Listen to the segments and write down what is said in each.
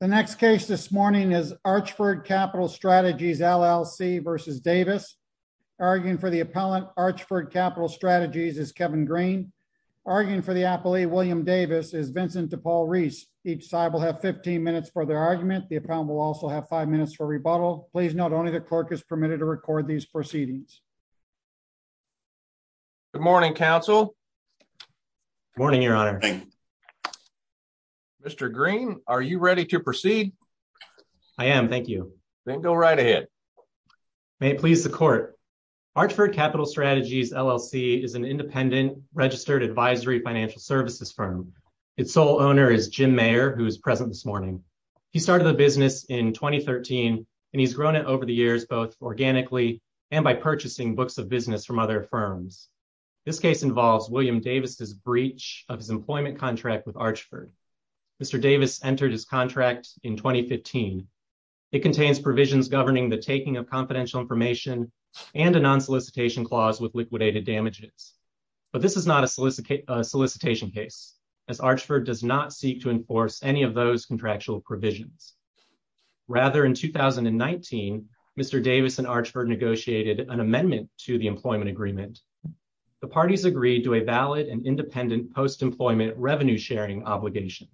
The next case this morning is Archford Capital Strategies, LLC v. Davis. Arguing for the appellant, Archford Capital Strategies, is Kevin Green. Arguing for the appellee, William Davis, is Vincent DePaul-Reese. Each side will have 15 minutes for their argument. The appellant will also have 5 minutes for rebuttal. Please note only the clerk is permitted to record these proceedings. Good morning, counsel. Good morning, your honor. Mr. Green, are you ready to proceed? I am. Thank you. Then go right ahead. May it please the court. Archford Capital Strategies, LLC is an independent registered advisory financial services firm. Its sole owner is Jim Mayer, who is present this morning. He started the business in 2013 and he's grown it over the years, both organically and by purchasing books of business from other firms. This case involves William Davis's breach of his employment contract with Archford. Mr. Davis entered his contract in 2015. It contains provisions governing the taking of confidential information and a non-solicitation clause with liquidated damages. But this is not a solicitation case, as Archford does not seek to enforce any of those contractual provisions. Rather, in 2019, Mr. Davis and Archford negotiated an amendment to the employment agreement. The parties agreed to a valid and independent post-employment revenue sharing obligation.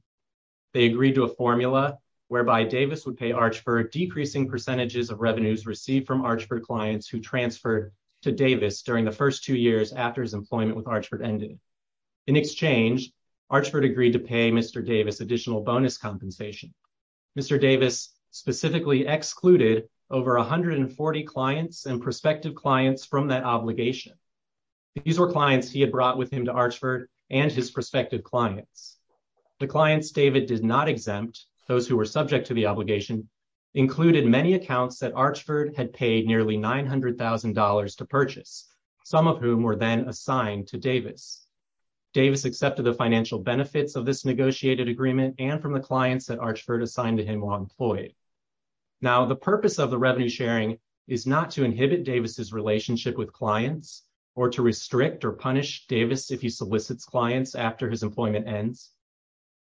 They agreed to a formula whereby Davis would pay Archford decreasing percentages of revenues received from Archford clients who transferred to Davis during the first two years after his employment with Archford ended. In exchange, Archford agreed to pay Mr. Davis additional bonus compensation. Mr. Davis specifically excluded over 140 clients and prospective clients from that obligation. These were clients he had brought with him to Archford and his prospective clients. The clients David did not exempt, those who were subject to the obligation, included many accounts that Archford had paid nearly $900,000 to purchase, some of whom were then assigned to Davis. Davis accepted the financial benefits of this negotiated agreement and from the clients that Archford assigned to him while employed. Now, the purpose of the revenue sharing is not to inhibit Davis's relationship with clients or to restrict or punish Davis if he solicits clients after his employment ends.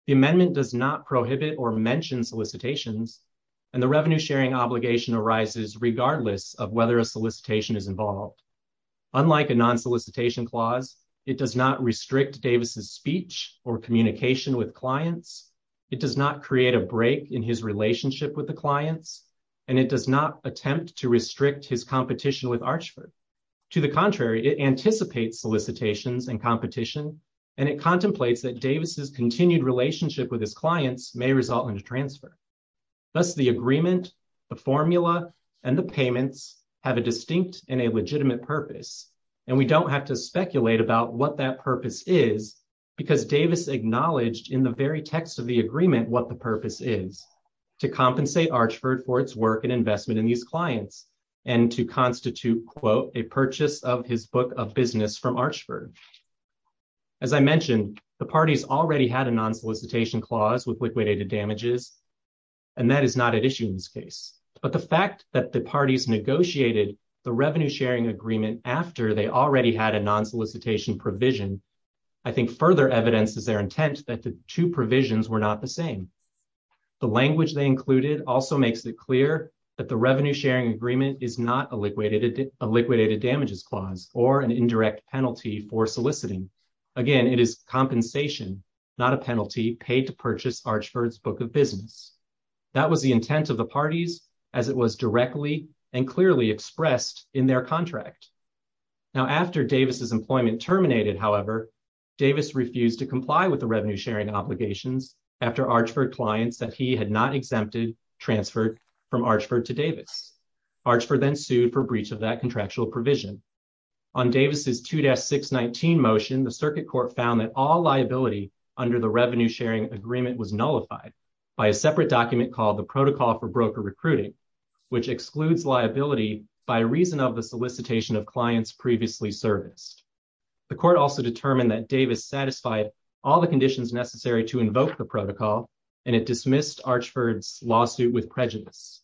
The amendment does not prohibit or mention solicitations, and the revenue sharing obligation arises regardless of whether a solicitation is involved. Unlike a non-solicitation clause, it does not restrict Davis's speech or communication with clients, it does not create a break in his relationship with the clients, and it does not attempt to restrict his competition with Archford. To the contrary, it anticipates solicitations and competition, and it contemplates that Davis's continued relationship with his clients may result in a transfer. Thus, the agreement, the formula, and the payments have a distinct and a legitimate purpose, and we don't have to speculate about what that purpose is, because Davis acknowledged in the very text of the agreement what the purpose is, to compensate Archford for its work and investment in these clients, and to constitute, quote, a purchase of his book of business from Archford. As I mentioned, the parties already had a non-solicitation clause with liquidated damages, and that is not at issue in this case, but the fact that the parties negotiated the revenue-sharing agreement after they already had a non-solicitation provision, I think further evidences their intent that the two provisions were not the same. The language they included also makes it clear that the revenue-sharing agreement is not a liquidated damages clause or an indirect penalty for soliciting. Again, it is compensation, not a penalty paid to purchase Archford's book of business. That was the intent of the parties as it was directly and clearly expressed in their contract. Now, after Davis's employment terminated, however, Davis refused to comply with the revenue-sharing obligations after Archford clients that he had not exempted transferred from Archford to Davis. Archford then sued for breach of that contractual provision. On Davis's 2-619 motion, the Circuit Court found that all liability under the revenue-sharing agreement was nullified by a separate document called the Protocol for Broker Recruiting, which excludes liability by reason of the solicitation of clients previously serviced. The court also determined that Davis satisfied all the conditions necessary to invoke the protocol, and it dismissed Archford's lawsuit with prejudice.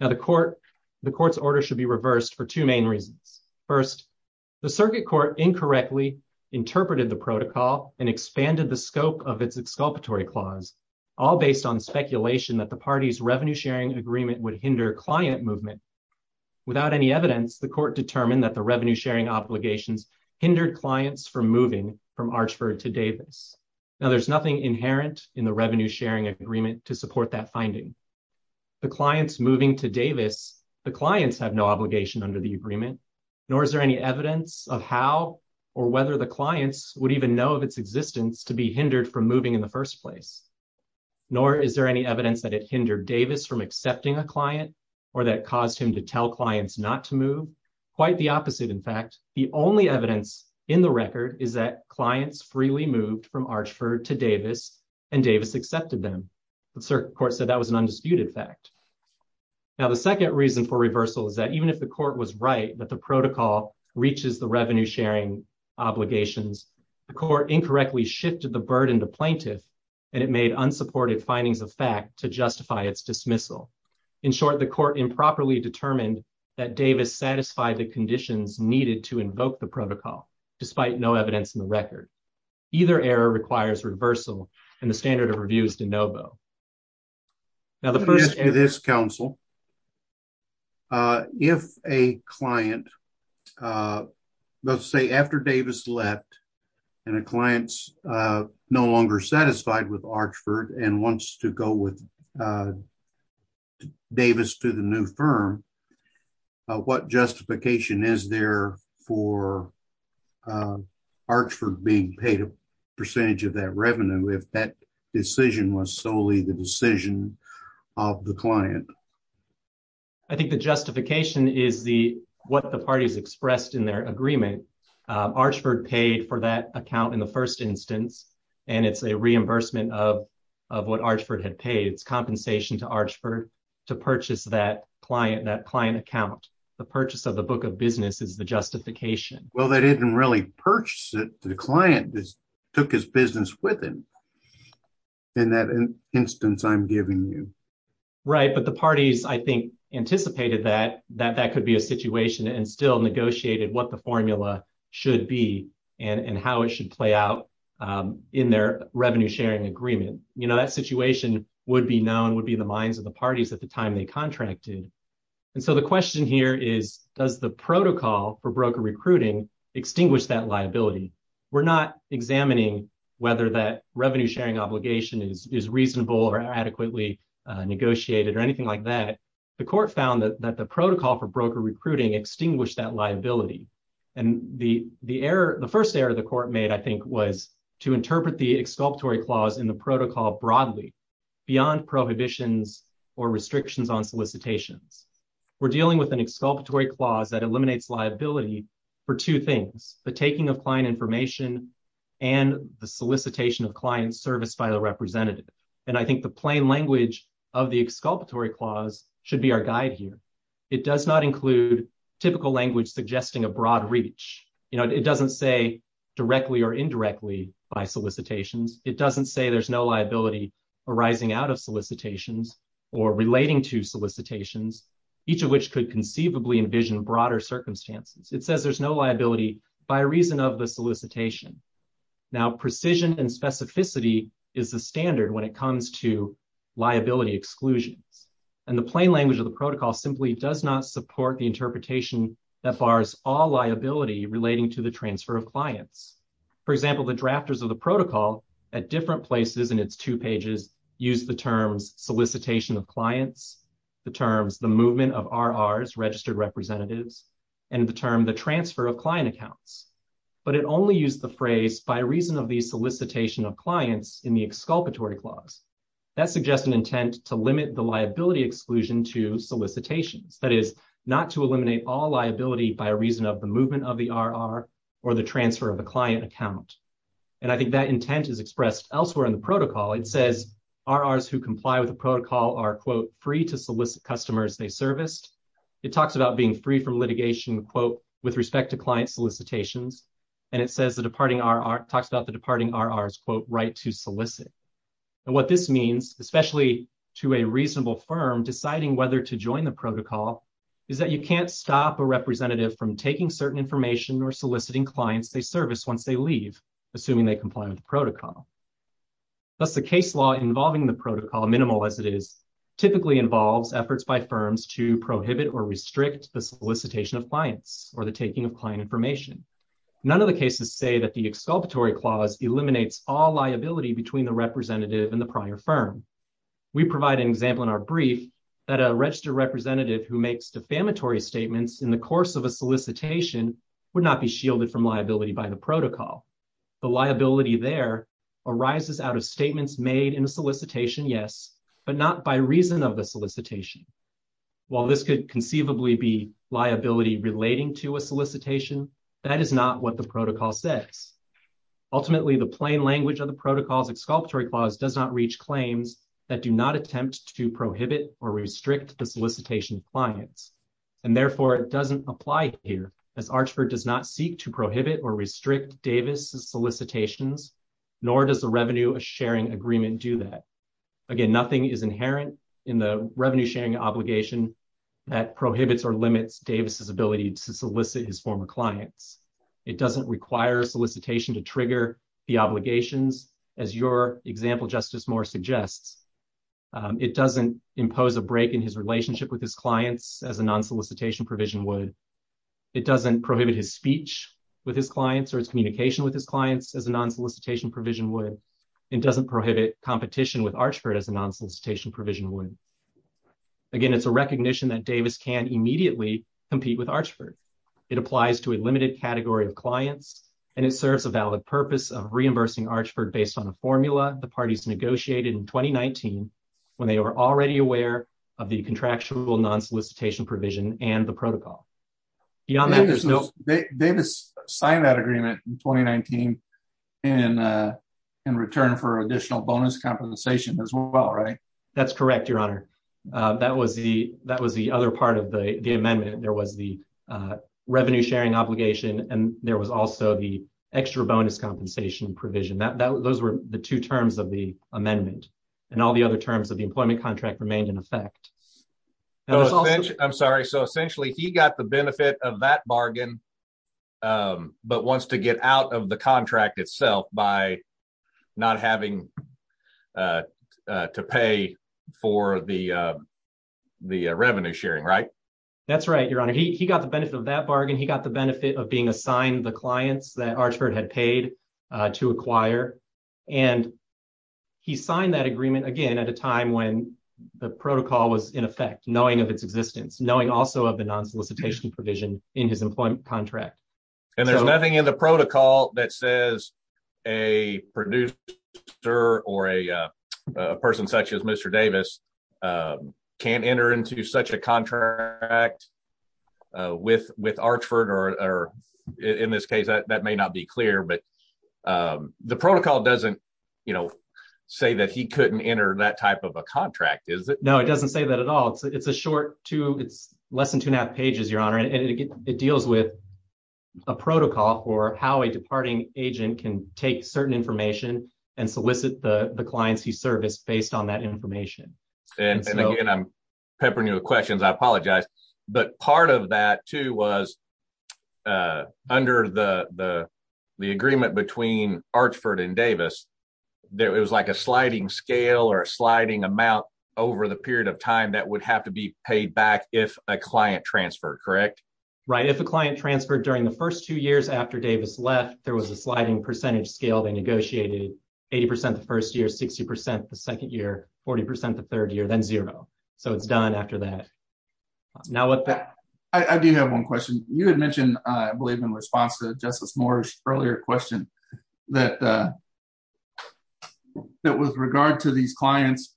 Now, the court's order should be reversed for two main reasons. First, the Circuit Court incorrectly interpreted the protocol and expanded the scope of its exculpatory clause, all based on speculation that the party's revenue-sharing agreement would hinder client movement. Without any evidence, the court determined that the revenue-sharing obligations hindered clients from moving from Archford to Davis. Now, there's nothing inherent in the revenue-sharing agreement to support that finding. The clients moving to Davis, the clients have no obligation under the agreement, nor is there any evidence of how or whether the clients would even know of its existence to be hindered from moving in the first place. Nor is there any evidence that it hindered Davis from accepting a client or that caused him to tell clients not to move. Quite the opposite, in fact. The only evidence in the record is that clients freely moved from Archford to Davis and Davis accepted them. The Circuit Court said that was an undisputed fact. Now, the second reason for reversal is that even if the court was right that the protocol reaches the revenue-sharing obligations, the court incorrectly shifted the burden to plaintiff and it made unsupported findings of fact to justify its dismissal. In short, the court improperly determined that Davis satisfied the conditions needed to invoke the protocol, despite no evidence in the record. I have a question for this counsel. If a client, let's say after Davis left, and a client's no longer satisfied with Archford and wants to go with Davis to the new firm, what justification is there for Archford being paid a percentage of that revenue if that decision was solely the decision of the client? I think the justification is what the parties expressed in their agreement. Archford paid for that account in the first instance and it's a reimbursement of what Archford had paid. It's compensation to Archford to purchase that client account. The purchase of the book of business is the justification. Well, they didn't really purchase it. The client just took his business with him in that instance I'm giving you. But the parties, I think, anticipated that that could be a situation and still negotiated what the formula should be and how it should play out in their revenue-sharing agreement. That situation would be known, would be the minds of the parties at the time they contracted. The question here is, does the protocol for broker recruiting extinguish that liability? We're not examining whether that revenue-sharing obligation is reasonable or adequately negotiated or anything like that. The court found that the protocol for broker recruiting extinguished that liability. The first error the court made, I think, was to interpret the exculpatory clause in the protocol broadly beyond prohibitions or restrictions on solicitations. We're dealing with an exculpatory clause that eliminates liability for two things, the taking of client information and the solicitation of client service by the representative. And I think the plain language of the exculpatory clause should be our guide here. It does not include typical language suggesting a broad reach. You know, it doesn't say directly or indirectly by solicitations. It doesn't say there's no liability arising out of solicitations or relating to solicitations, each of which could conceivably envision broader circumstances. It says there's no liability by reason of the solicitation. Now, precision and specificity is the standard when it comes to liability exclusions. And the plain language of the protocol simply does not support the interpretation that bars all liability relating to the transfer of clients. For example, the drafters of the protocol at different places in its two pages use the terms solicitation of clients, the terms the movement of RRs, registered representatives, and the term the transfer of client accounts. But it only used the phrase by reason of the solicitation of clients in the exculpatory clause. That suggests an intent to limit the liability exclusion to solicitations. That is not to eliminate all liability by reason of the movement of the RR or the transfer of a client account. And I think that intent is expressed elsewhere in the protocol. It says RRs who comply with the protocol are, quote, free to solicit customers they serviced. It talks about being free from litigation, quote, with respect to client solicitations. And it says the departing RR talks about the departing RRs, quote, right to solicit. And what this means, especially to a reasonable firm deciding whether to join the protocol, is that you can't stop a representative from taking certain information or soliciting clients they service once they leave, assuming they comply with the protocol. Thus, the case law involving the protocol, minimal as it is, typically involves efforts by firms to prohibit or restrict the solicitation of clients or the taking of client information. None of the cases say that the exculpatory clause eliminates all liability between the representative and the prior firm. We provide an example in our brief that a registered representative who makes defamatory statements in the course of a solicitation would not be shielded from liability by the protocol. The liability there arises out of statements made in a solicitation, yes, but not by reason of the solicitation. While this could conceivably be liability relating to a solicitation, that is not what the protocol says. Ultimately, the plain language of the protocol's exculpatory clause does not reach claims that do not attempt to prohibit or restrict the solicitation of clients. And therefore, it doesn't apply here, as Archford does not seek to prohibit or restrict Davis' solicitations, nor does the revenue sharing agreement do that. Again, nothing is inherent in the revenue sharing obligation that prohibits or limits Davis' ability to solicit his former clients. It doesn't require solicitation to trigger the obligations, as your example, Justice Moore, suggests. It doesn't impose a break in his relationship with his clients as a non-solicitation provision would. It doesn't prohibit his speech with his clients or his communication with his clients as a non-solicitation provision would. It doesn't prohibit competition with Archford as a non-solicitation provision would. Again, it's a recognition that Davis can immediately compete with Archford. It applies to a limited category of clients, and it serves a valid purpose of reimbursing Archford based on a formula the parties negotiated in 2019 when they were already aware of the contractual non-solicitation provision and the protocol. Davis signed that agreement in 2019 in return for additional bonus compensation as well, right? That's correct, Your Honor. That was the other part of the amendment. There was the revenue sharing obligation, and there was also the extra bonus compensation provision. Those were the two terms of the amendment, and all the other terms of the employment contract remained in effect. I'm sorry. So essentially, he got the benefit of that bargain but wants to get out of the contract itself by not having to pay for the revenue sharing, right? That's right, Your Honor. He got the benefit of that bargain. He got the benefit of being assigned the clients that Archford had paid to acquire, and he signed that agreement again at a time when the protocol was in effect, knowing of its existence, knowing also of the non-solicitation provision in his employment contract. And there's nothing in the protocol that says a producer or a person such as Mr. Davis can't enter into such a contract with Archford, or in this case, that may not be clear, but the protocol doesn't say that he couldn't enter that type of a contract, is it? No, it doesn't say that at all. It's less than two and a half pages, Your Honor, and it deals with a protocol for how a departing agent can take certain information and solicit the clients he serviced based on that information. And again, I'm peppering you with questions. I apologize. But part of that too was, under the agreement between Archford and Davis, it was like a sliding scale or a sliding amount over the period of time that would have to be paid back if a client transferred, correct? Right, if a client transferred during the first two years after Davis left, there was a sliding percentage scale. They negotiated 80% the first year, 60% the second year, 40% the third year, then zero. So it's done after that. I do have one question. You had mentioned, I believe in response to Justice Moore's earlier question, that with regard to these clients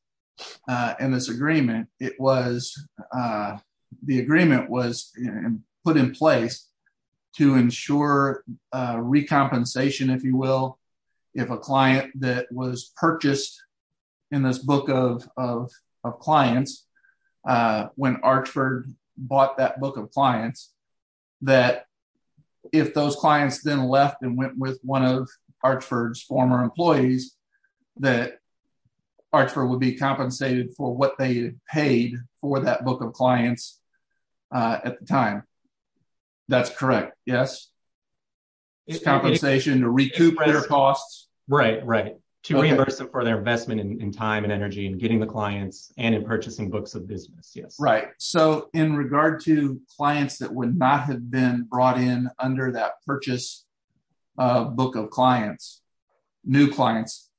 and this agreement, the agreement was put in place to ensure recompensation, if you will, if a client that was purchased in this book of clients, when Archford bought that book of clients, that if those clients then left and went with one of Archford's former employees, that Archford would be compensated for what they paid for that book of clients at the time. That's correct, yes? It's compensation to recoup their costs. Right, right. To reimburse them for their investment in time and energy and getting the clients and in purchasing books of business, yes. Right. So in regard to clients that would not have been brought in under that purchase book of clients, new clients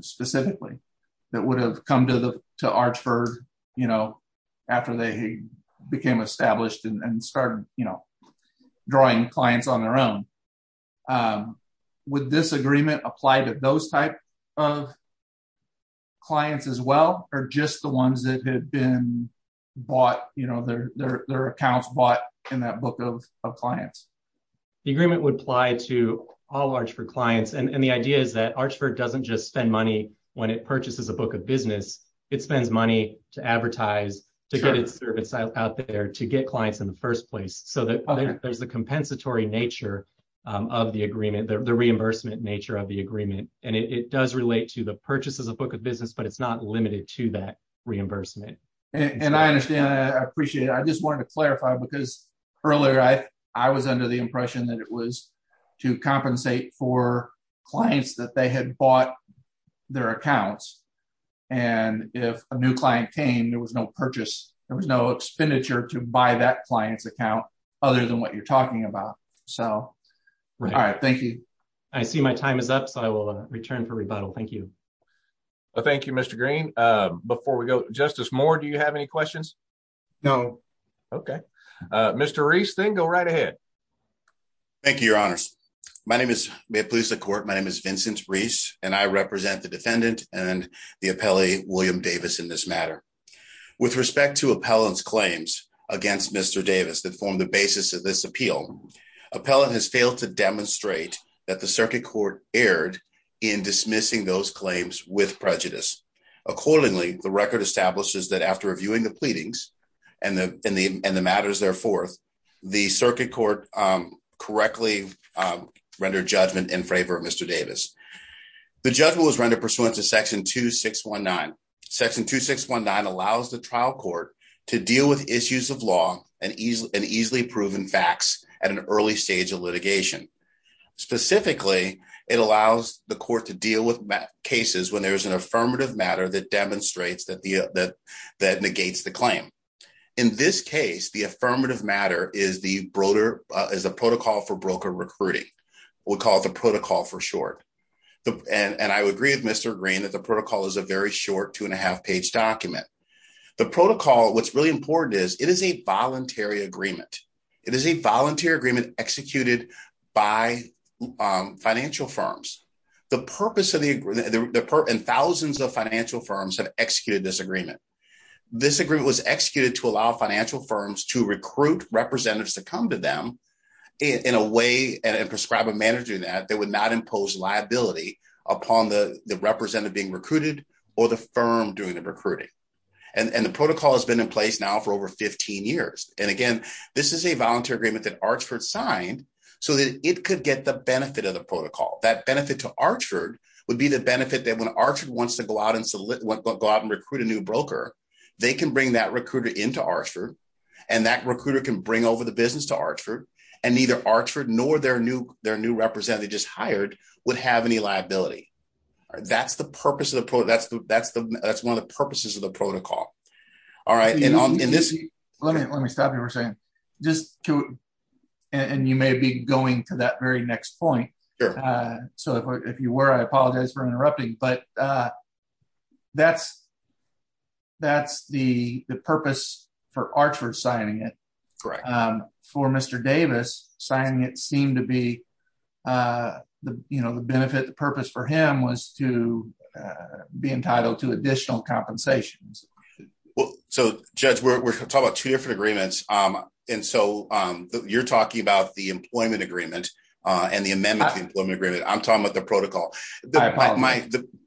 specifically, that would have come to Archford after they became established and started drawing clients on their own, would this agreement apply to those type of clients as well or just the ones that had been bought, their accounts bought in that book of clients? The agreement would apply to all Archford clients, and the idea is that Archford doesn't just spend money when it purchases a book of business, it spends money to advertise, to get its service out there, to get clients in the first place so that there's the compensatory nature of the agreement, the reimbursement nature of the agreement. And it does relate to the purchase as a book of business, but it's not limited to that reimbursement. And I understand, I appreciate it. I just wanted to clarify, because earlier I was under the impression that it was to compensate for clients that they had bought their accounts. And if a new client came, there was no purchase, there was no expenditure to buy that client's account other than what you're talking about. So, all right. Thank you. I see my time is up, so I will return for rebuttal. Thank you. Thank you, Mr. Green. Before we go, Justice Moore, do you have any questions? No. Okay. Mr. Reese, then go right ahead. Thank you, your honors. My name is, may it please the court, my name is Vincent Reese, and I represent the defendant and the appellee William Davis in this matter. With respect to appellant's claims against Mr. Davis that formed the basis of this appeal, appellant has failed to demonstrate that the circuit court erred in dismissing those claims with prejudice. Accordingly, the record establishes that after reviewing the pleadings and the matters therefore, the circuit court correctly rendered judgment in favor of Mr. Davis. The judgment was rendered pursuant to section 2619. Section 2619 allows the trial court to deal with issues of law and easily proven facts at an early stage of litigation. Specifically, it allows the court to deal with cases when there's an affirmative matter that demonstrates that negates the claim. In this case, the affirmative matter is the protocol for broker recruiting. We'll call it the protocol for short. And I would agree with Mr. Green that the protocol is a very short two and a half page document. The protocol, what's really important is it is a voluntary agreement. It is a voluntary agreement executed by financial firms. And thousands of financial firms have executed this agreement. This agreement was executed to allow financial firms to recruit representatives to come to them in a way and prescribe a manager that would not impose liability upon the representative being recruited or the firm doing the recruiting. And the protocol has been in place now for over 15 years. And again, this is a voluntary agreement that Archford signed so that it could get the benefit of the protocol. That benefit to Archford would be the benefit that when Archford wants to go out and recruit a new broker, they can bring that recruiter into Archford and that recruiter can bring over the business to Archford and neither Archford nor their new representative they just hired would have any liability. That's the purpose of the protocol. That's one of the purposes of the protocol. All right, and on this... Let me stop you for a second. And you may be going to that very next point. So if you were, I apologize for interrupting. But that's the purpose for Archford signing it. For Mr. Davis, signing it seemed to be the benefit, the purpose for him was to be entitled to additional compensations. Well, so Judge, we're talking about two different agreements. And so you're talking about the employment agreement and the amendment to the employment agreement. I'm talking about the protocol.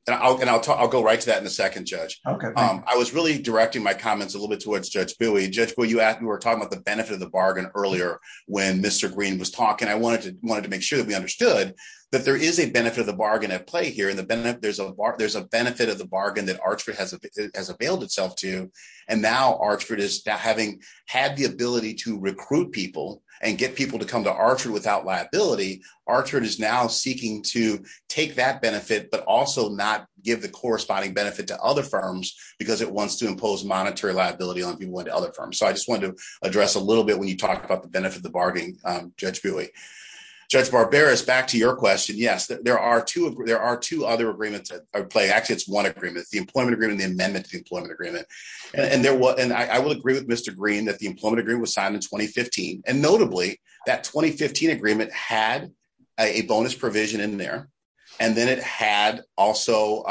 And I'll go right to that in a second, Judge. I was really directing my comments a little bit towards Judge Bowie. Judge Bowie, you were talking about the benefit of the bargain earlier when Mr. Green was talking. I wanted to make sure that we understood that there is a benefit of the bargain at play here. And there's a benefit of the bargain that Archford has availed itself to. And now Archford is having had the ability to recruit people and get people to come to Archford without liability. Archford is now seeking to take that benefit, but also not give the corresponding benefit to other firms because it wants to impose monetary liability on people to other firms. So I just wanted to address a little bit when you talked about the benefit of the bargain, Judge Bowie. Judge Barberis, back to your question. Yes, there are two. There are two other agreements at play. Actually, it's one agreement, the employment agreement, the amendment to the employment agreement. And there was, and I will agree with Mr. Green that the employment agreement was signed in 2015. And notably, that 2015 agreement had a bonus provision in there. And then it had also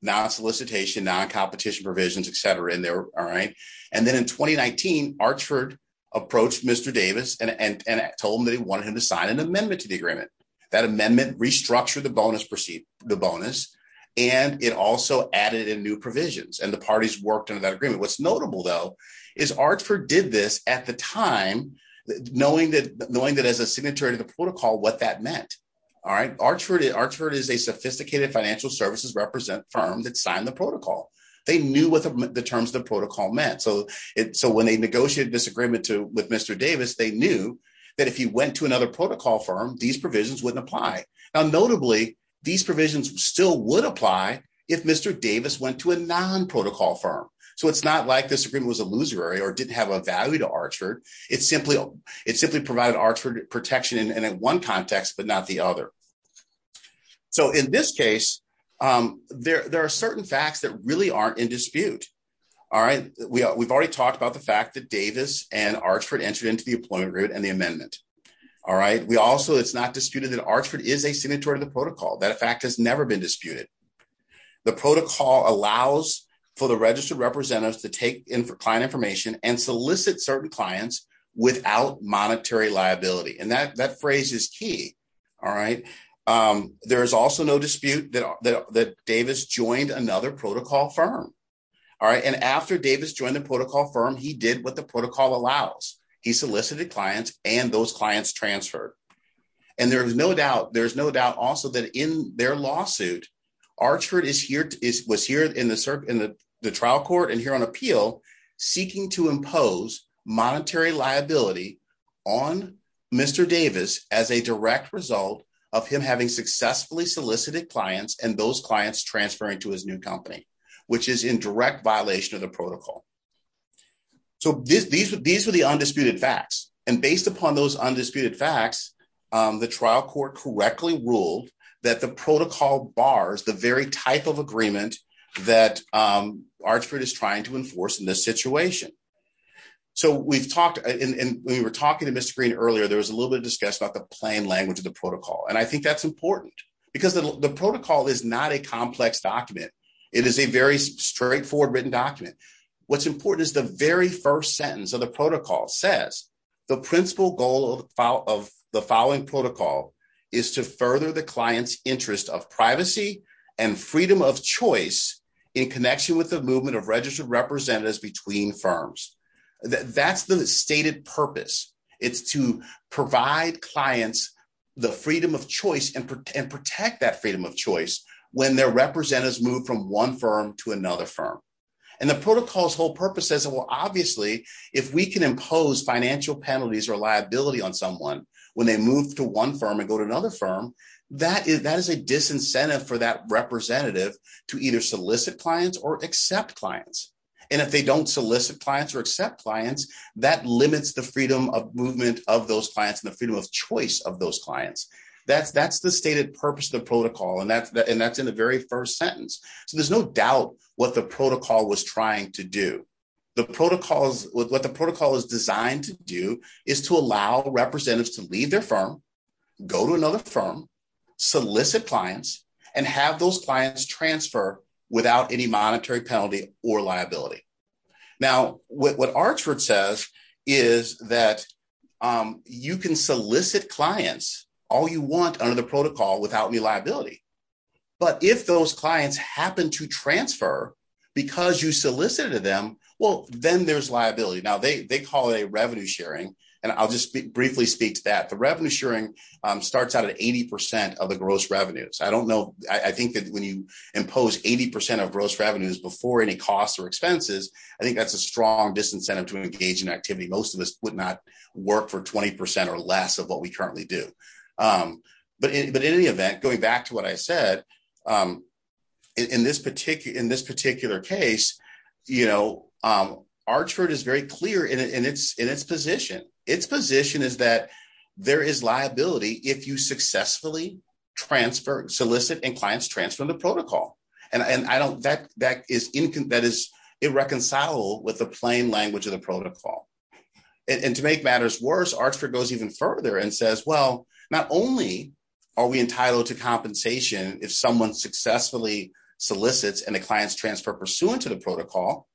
non-solicitation, non-competition provisions, et cetera, in there. All right. And then in 2019, Archford approached Mr. Davis and told him that he wanted him to sign an amendment to the agreement. That amendment restructured the bonus proceed, the bonus. And it also added in new provisions. And the parties worked on that agreement. What's notable, though, is Archford did this at the time, knowing that as a signatory to the protocol, what that meant. All right. Archford is a sophisticated financial services represent firm that signed the protocol. They knew what the terms of the protocol meant. So when they negotiated this agreement with Mr. Davis, they knew that if he went to another protocol firm, these provisions wouldn't apply. Now, notably, these provisions still would apply if Mr. Davis went to a non-protocol firm. So it's not like this agreement was illusory or didn't have a value to Archford. It simply provided Archford protection in one context, but not the other. So in this case, there are certain facts that really aren't in dispute. All right. We've already talked about the fact that Davis and Archford entered into the employment agreement and the amendment. All right. We also it's not disputed that Archford is a signatory to the protocol. That fact has never been disputed. The protocol allows for the registered representatives to take in for client information and solicit certain clients without monetary liability. And that that phrase is key. All right. There is also no dispute that Davis joined another protocol firm. All right. And after Davis joined the protocol firm, he did what the protocol allows. He solicited clients and those clients transferred. And there is no doubt. There is no doubt also that in their lawsuit, Archford is here, is was here in the trial court and here on appeal, seeking to impose monetary liability on Mr. Davis as a direct result of him having successfully solicited clients and those clients transferring to his new company, which is in direct violation of the protocol. So these are the undisputed facts. And based upon those undisputed facts, the trial court correctly ruled that the protocol bars the very type of agreement that Archford is trying to enforce in this situation. So we've talked and we were talking to Mr. Green earlier, there was a little bit of discuss about the plain language of the protocol. And I think that's important because the protocol is not a complex document. It is a very straightforward written document. What's important is the very first sentence of the protocol says, the principal goal of the following protocol is to further the client's interest of privacy and freedom of choice in connection with the movement of registered representatives between firms. That's the stated purpose. It's to provide clients the freedom of choice and protect that freedom of choice when their representatives move from one firm to another firm. And the protocol's whole purpose says, well, obviously, if we can impose financial penalties or liability on someone when they move to one firm and go to another firm, that is a disincentive for that representative to either solicit clients or accept clients. And if they don't solicit clients or accept clients, that limits the freedom of movement of those clients and the freedom of choice of those clients. That's the stated purpose of the protocol. And that's in the very first sentence. So there's no doubt what the protocol was trying to do. The protocols, what the protocol is designed to do is to allow representatives to leave their firm, go to another firm, solicit clients, and have those clients transfer without any monetary penalty or liability. Now, what Archford says is that you can solicit clients all you want under the protocol without any liability. But if those clients happen to transfer because you solicited them, then there's liability. Now, they call it a revenue sharing. And I'll just briefly speak to that. The revenue sharing starts out at 80% of the gross revenues. I don't know. I think that when you impose 80% of gross revenues before any costs or expenses, I think that's a strong disincentive to engage in activity. Most of us would not work for 20% or less of what we currently do. But in any event, going back to what I said, in this particular case, Archford is very clear in its position. Its position is that there is liability if you successfully transfer, solicit, and clients transfer the protocol. And that is irreconcilable with the plain language of the protocol. And to make matters worse, Archford goes even further and says, well, not only are we entitled to compensation if someone successfully solicits and the clients transfer pursuant to the protocol,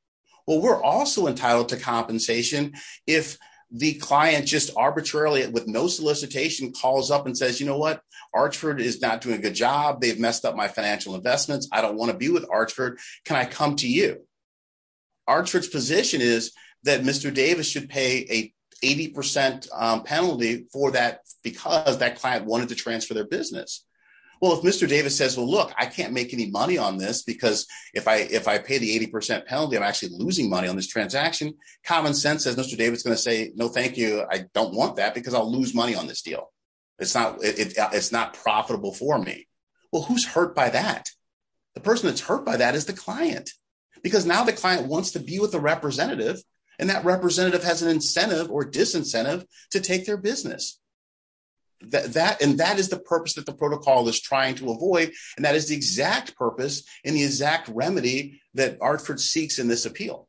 well, we're also entitled to compensation if the client just arbitrarily with no solicitation calls up and says, you know what? Archford is not doing a good job. They've messed up my financial investments. I don't want to be with Archford. Can I come to you? Archford's position is that Mr. Davis should pay a 80% penalty for that because that client wanted to transfer their business. Well, if Mr. Davis says, well, look, I can't make any money on this because if I pay the 80% penalty, I'm actually losing money on this transaction. Common sense says, Mr. Davis is going to say, no, thank you. I don't want that because I'll lose money on this deal. It's not profitable for me. Well, who's hurt by that? The person that's hurt by that is the client because now the client wants to be with the representative and that representative has an incentive or disincentive to take their business. And that is the purpose that the protocol is trying to avoid. And that is the exact purpose and the exact remedy that Artford seeks in this appeal.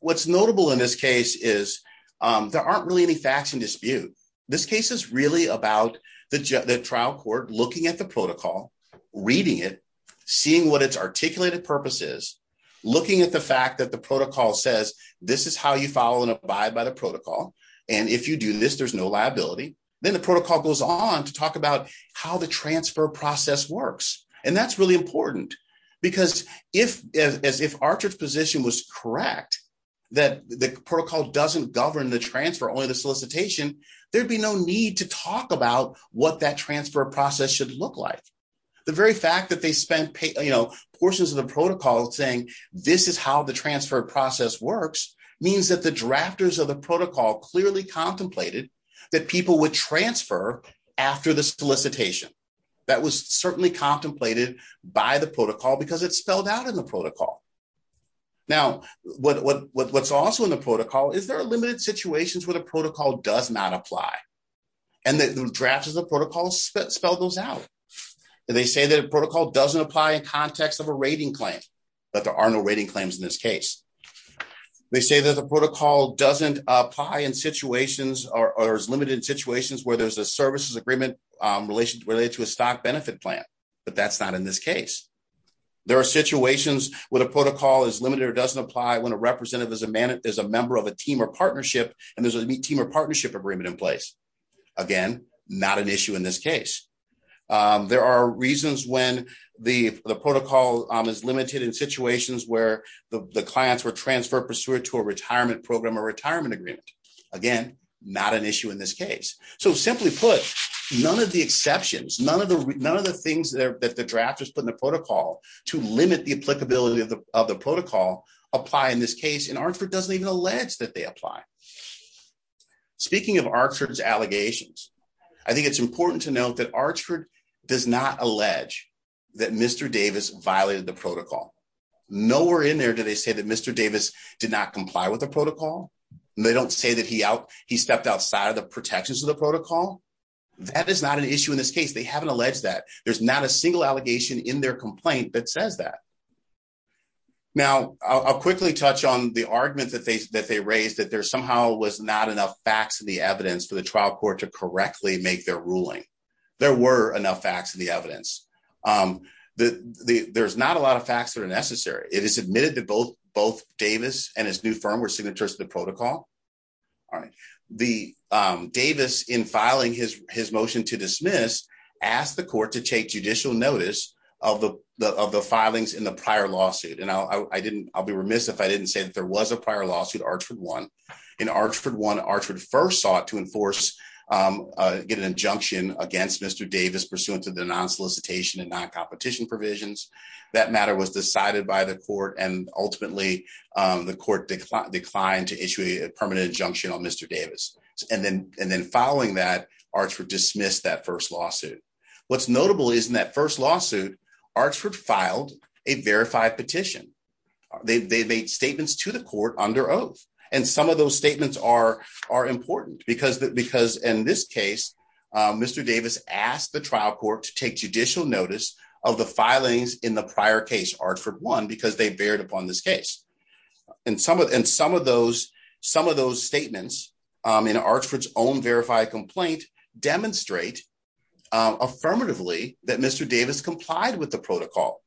What's notable in this case is there aren't really any facts in dispute. This case is really about the trial court looking at the protocol, reading it, seeing what its articulated purpose is, looking at the fact that the protocol says, this is how you follow and abide by the protocol. And if you do this, there's no liability. Then the protocol goes on to talk about how the transfer process works. And that's really important because if Artford's position was correct, that the protocol doesn't govern the transfer, only the solicitation, there'd be no need to talk about what that transfer process should look like. The very fact that they spent portions of the protocol saying this is how the transfer process works means that the drafters of the protocol clearly contemplated that people would transfer after the solicitation. That was certainly contemplated by the protocol because it's spelled out in the protocol. Now, what's also in the protocol is there are limited situations where the protocol does not apply and the drafters of the protocol spell those out. They say that a protocol doesn't apply in context of a rating claim, but there are no rating claims in this case. They say that the protocol doesn't apply in situations or is limited in situations where there's a services agreement related to a stock benefit plan, but that's not in this case. There are situations when a protocol is limited or doesn't apply when a representative is a member of a team or partnership and there's a team or partnership agreement in place. Again, not an issue in this case. There are reasons when the protocol is limited in situations where the clients were transferred pursuant to a retirement program or retirement agreement. Again, not an issue in this case. So simply put, none of the exceptions, none of the things that the drafters put in the protocol to limit the applicability of the protocol apply in this case and Archford doesn't even allege that they apply. Speaking of Archford's allegations, I think it's important to note that Archford does not allege that Mr. Davis violated the protocol. Nowhere in there do they say that Mr. Davis did not comply with the protocol. They don't say that he stepped outside of the protections of the protocol. That is not an issue in this case. They haven't alleged that. There's not a single allegation in their complaint that says that. Now, I'll quickly touch on the argument that they raised that there somehow was not enough facts in the evidence for the trial court to correctly make their ruling. There were enough facts in the evidence. There's not a lot of facts that are necessary. It is admitted that both Davis and his new firm were signatures of the protocol. All right, the Davis in filing his motion to dismiss asked the court to take judicial notice of the filings in the prior lawsuit. And I'll be remiss if I didn't say that there was a prior lawsuit, Archford one. In Archford one, Archford first sought to enforce, get an injunction against Mr. Davis pursuant to the non-solicitation and non-competition provisions. That matter was decided by the court and ultimately the court declined to issue a permanent injunction on Mr. Davis. And then following that, Archford dismissed that first lawsuit. What's notable is in that first lawsuit, Archford filed a verified petition. They made statements to the court under oath. And some of those statements are important because in this case, Mr. Davis asked the trial court to take judicial notice of the filings in the prior case, Archford one, because they bared upon this case. And some of those statements in Archford's own verified complaint demonstrate affirmatively that Mr. Davis complied with the protocol.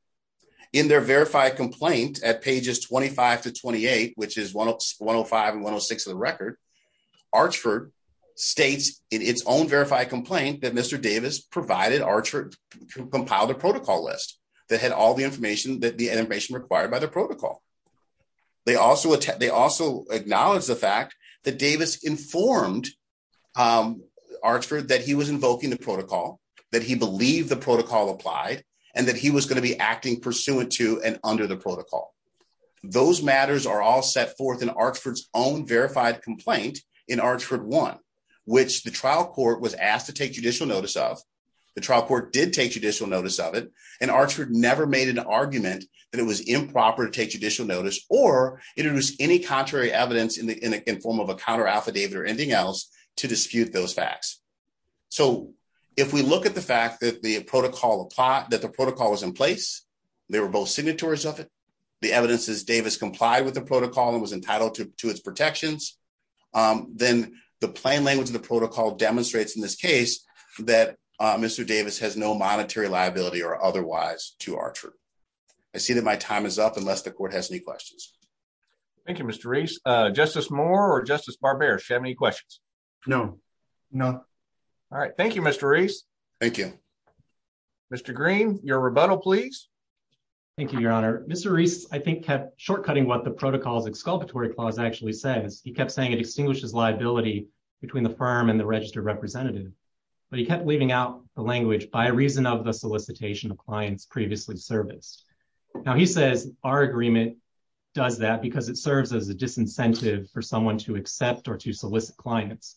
In their verified complaint at pages 25 to 28, which is 105 and 106 of the record, Archford states in its own verified complaint that Mr. Davis provided, Archford compiled a protocol list that had all the information that the animation required by the protocol. They also acknowledge the fact that Davis informed Archford that he was invoking the protocol, that he believed the protocol applied, and that he was going to be acting pursuant to and under the protocol. Those matters are all set forth in Archford's own verified complaint in Archford one, which the trial court was asked to take judicial notice of. The trial court did take judicial notice of it. And Archford never made an argument that it was improper to take judicial notice or introduce any contrary evidence in form of a counter-affidavit or anything else to dispute those facts. So if we look at the fact that the protocol was in place, they were both signatories of it, the evidence is Davis complied with the protocol and was entitled to its protections, then the plain language of the protocol demonstrates in this case that Mr. Davis has no monetary liability or otherwise to Archford. I see that my time is up unless the court has any questions. Thank you, Mr. Reese. Justice Moore or Justice Barber. She have any questions? No, no. All right. Thank you, Mr. Reese. Thank you, Mr. Green. Your rebuttal, please. Thank you, Your Honor. Mr. Reese, I think, kept shortcutting what the protocols exculpatory clause actually says. He kept saying it extinguishes liability between the firm and the registered representative, but he kept leaving out the language by reason of the solicitation of clients previously serviced. Now he says our agreement does that because it serves as a disincentive for someone to accept or to solicit clients.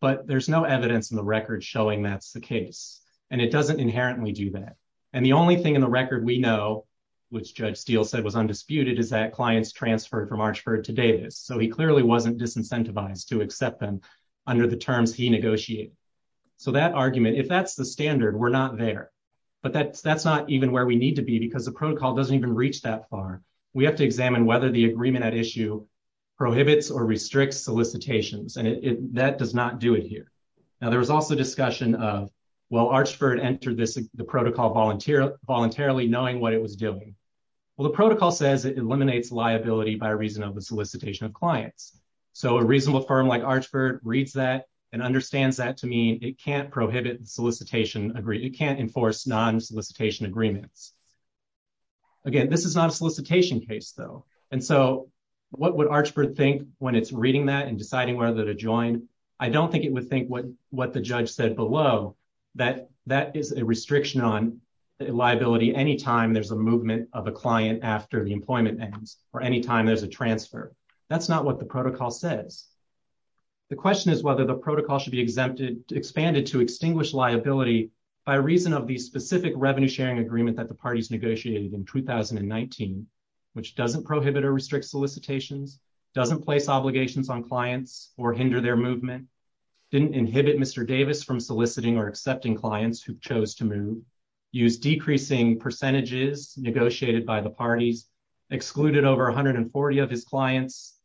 But there's no evidence in the record showing that's the case. And it doesn't inherently do that. And the only thing in the record we know, which Judge Steele said was undisputed, is that clients transferred from Archford to Davis. So he clearly wasn't disincentivized to accept them under the terms he negotiated. So that argument, if that's the standard, we're not there. But that's not even where we need to be because the protocol doesn't even reach that far. We have to examine whether the agreement at issue prohibits or restricts solicitations. And that does not do it here. Now, there was also discussion of, well, Archford entered the protocol voluntarily knowing what it was doing. Well, the protocol says it eliminates liability by reason of the solicitation of clients. So a reasonable firm like Archford reads that and understands that to mean it can't prohibit the solicitation agree. It can't enforce non-solicitation agreements. Again, this is not a solicitation case, though. And so what would Archford think when it's reading that and deciding whether to join? I don't think it would think what the judge said below, that that is a restriction on liability anytime there's a movement of a client after the employment ends or anytime there's a transfer. That's not what the protocol says. The question is whether the protocol should be expanded to extinguish liability by reason of the specific revenue sharing agreement that the parties negotiated in 2019, which doesn't prohibit or restrict solicitations, doesn't place obligations on clients or hinder their movement, didn't inhibit Mr. Davis from soliciting or accepting clients who chose to move, use decreasing percentages negotiated by the parties, excluded over 140 of his clients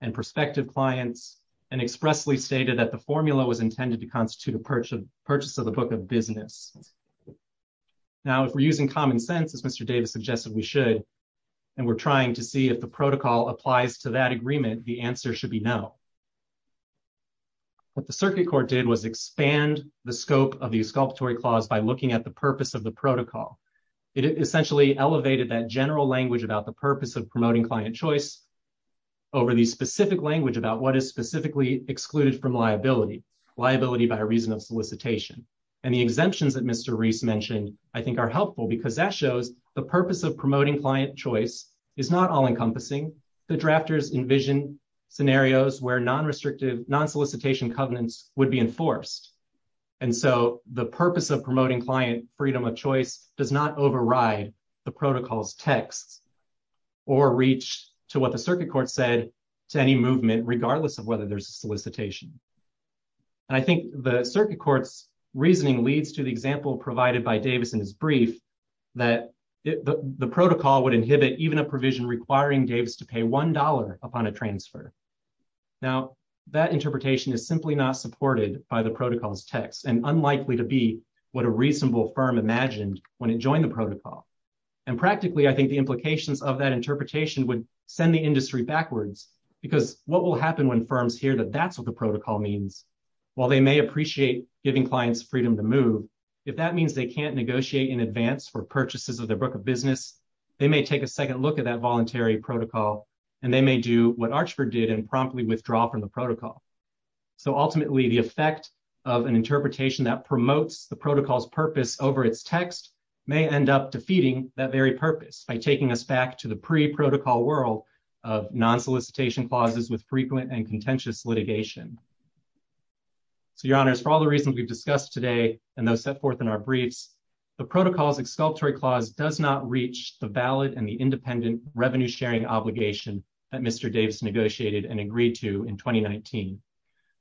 and prospective clients, and expressly stated that the formula was intended to constitute a purchase of the book of business. Now, if we're using common sense, as Mr. Davis suggested, we should, and we're trying to see if the protocol applies to that agreement, the answer should be no. What the circuit court did was expand the scope of the exculpatory clause by looking at the purpose of the protocol. It essentially elevated that general language about the purpose of promoting client choice over the specific language about what is specifically excluded from liability, liability by reason of solicitation. And the exemptions that Mr. Reese mentioned, I think are helpful because that shows the purpose of promoting client choice is not all encompassing. The drafters envision scenarios where non-restrictive, non-solicitation covenants would be enforced. And so the purpose of promoting client freedom of choice does not override the protocol's texts or reach to what the circuit court said to any movement, regardless of whether there's a solicitation. And I think the circuit court's example provided by Davis in his brief, that the protocol would inhibit even a provision requiring Davis to pay $1 upon a transfer. Now that interpretation is simply not supported by the protocol's text and unlikely to be what a reasonable firm imagined when it joined the protocol. And practically, I think the implications of that interpretation because what will happen when firms hear that that's what the protocol means, while they may appreciate giving clients freedom to move, if that means they can't negotiate in advance for purchases of their book of business, they may take a second look at that voluntary protocol and they may do what Archford did and promptly withdraw from the protocol. So ultimately the effect of an interpretation that promotes the protocol's purpose over its text may end up defeating that very purpose by taking us back to the pre-protocol world of non-solicitation clauses with frequent and contentious litigation. So your honors, for all the reasons we've discussed today and those set forth in our briefs, the protocol's exculpatory clause does not reach the valid and the independent revenue sharing obligation that Mr. Davis negotiated and agreed to in 2019.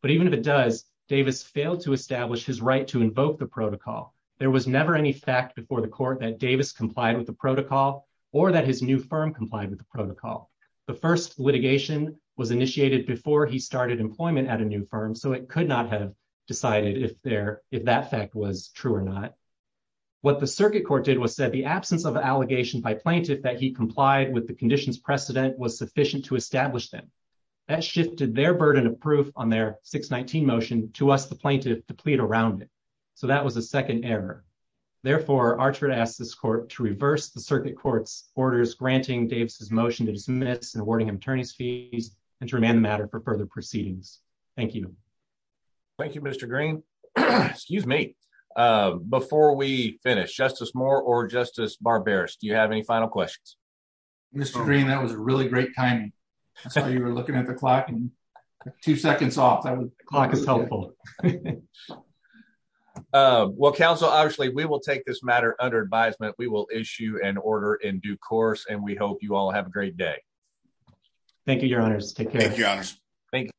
But even if it does, Davis failed to establish his right to invoke the protocol. There was never any fact before the court that Davis complied with the protocol or that his new firm complied with the protocol. The first litigation was initiated before he started employment at a new firm, so it could not have decided if that fact was true or not. What the circuit court did was said the absence of an allegation by plaintiff that he complied with the conditions precedent was sufficient to establish them. That shifted their burden of proof on their 619 motion to us, the plaintiff, to plead around it. So that was a second error. Therefore, Archford asked this court to reverse the circuit court's orders, granting Davis's motion to dismiss and awarding him attorney's fees and to remand the matter for further proceedings. Thank you. Thank you, Mr. Green. Excuse me. Before we finish, Justice Moore or Justice Barberis, do you have any final questions? Mr. Green, that was a really great timing. I saw you were looking at the clock and two seconds off. That was clock is helpful. Well, Council, obviously we will take this matter under advisement. We will issue an order in due course, and we hope you all have a great day. Thank you, Your Honors. Take care. Thank you. Thank you.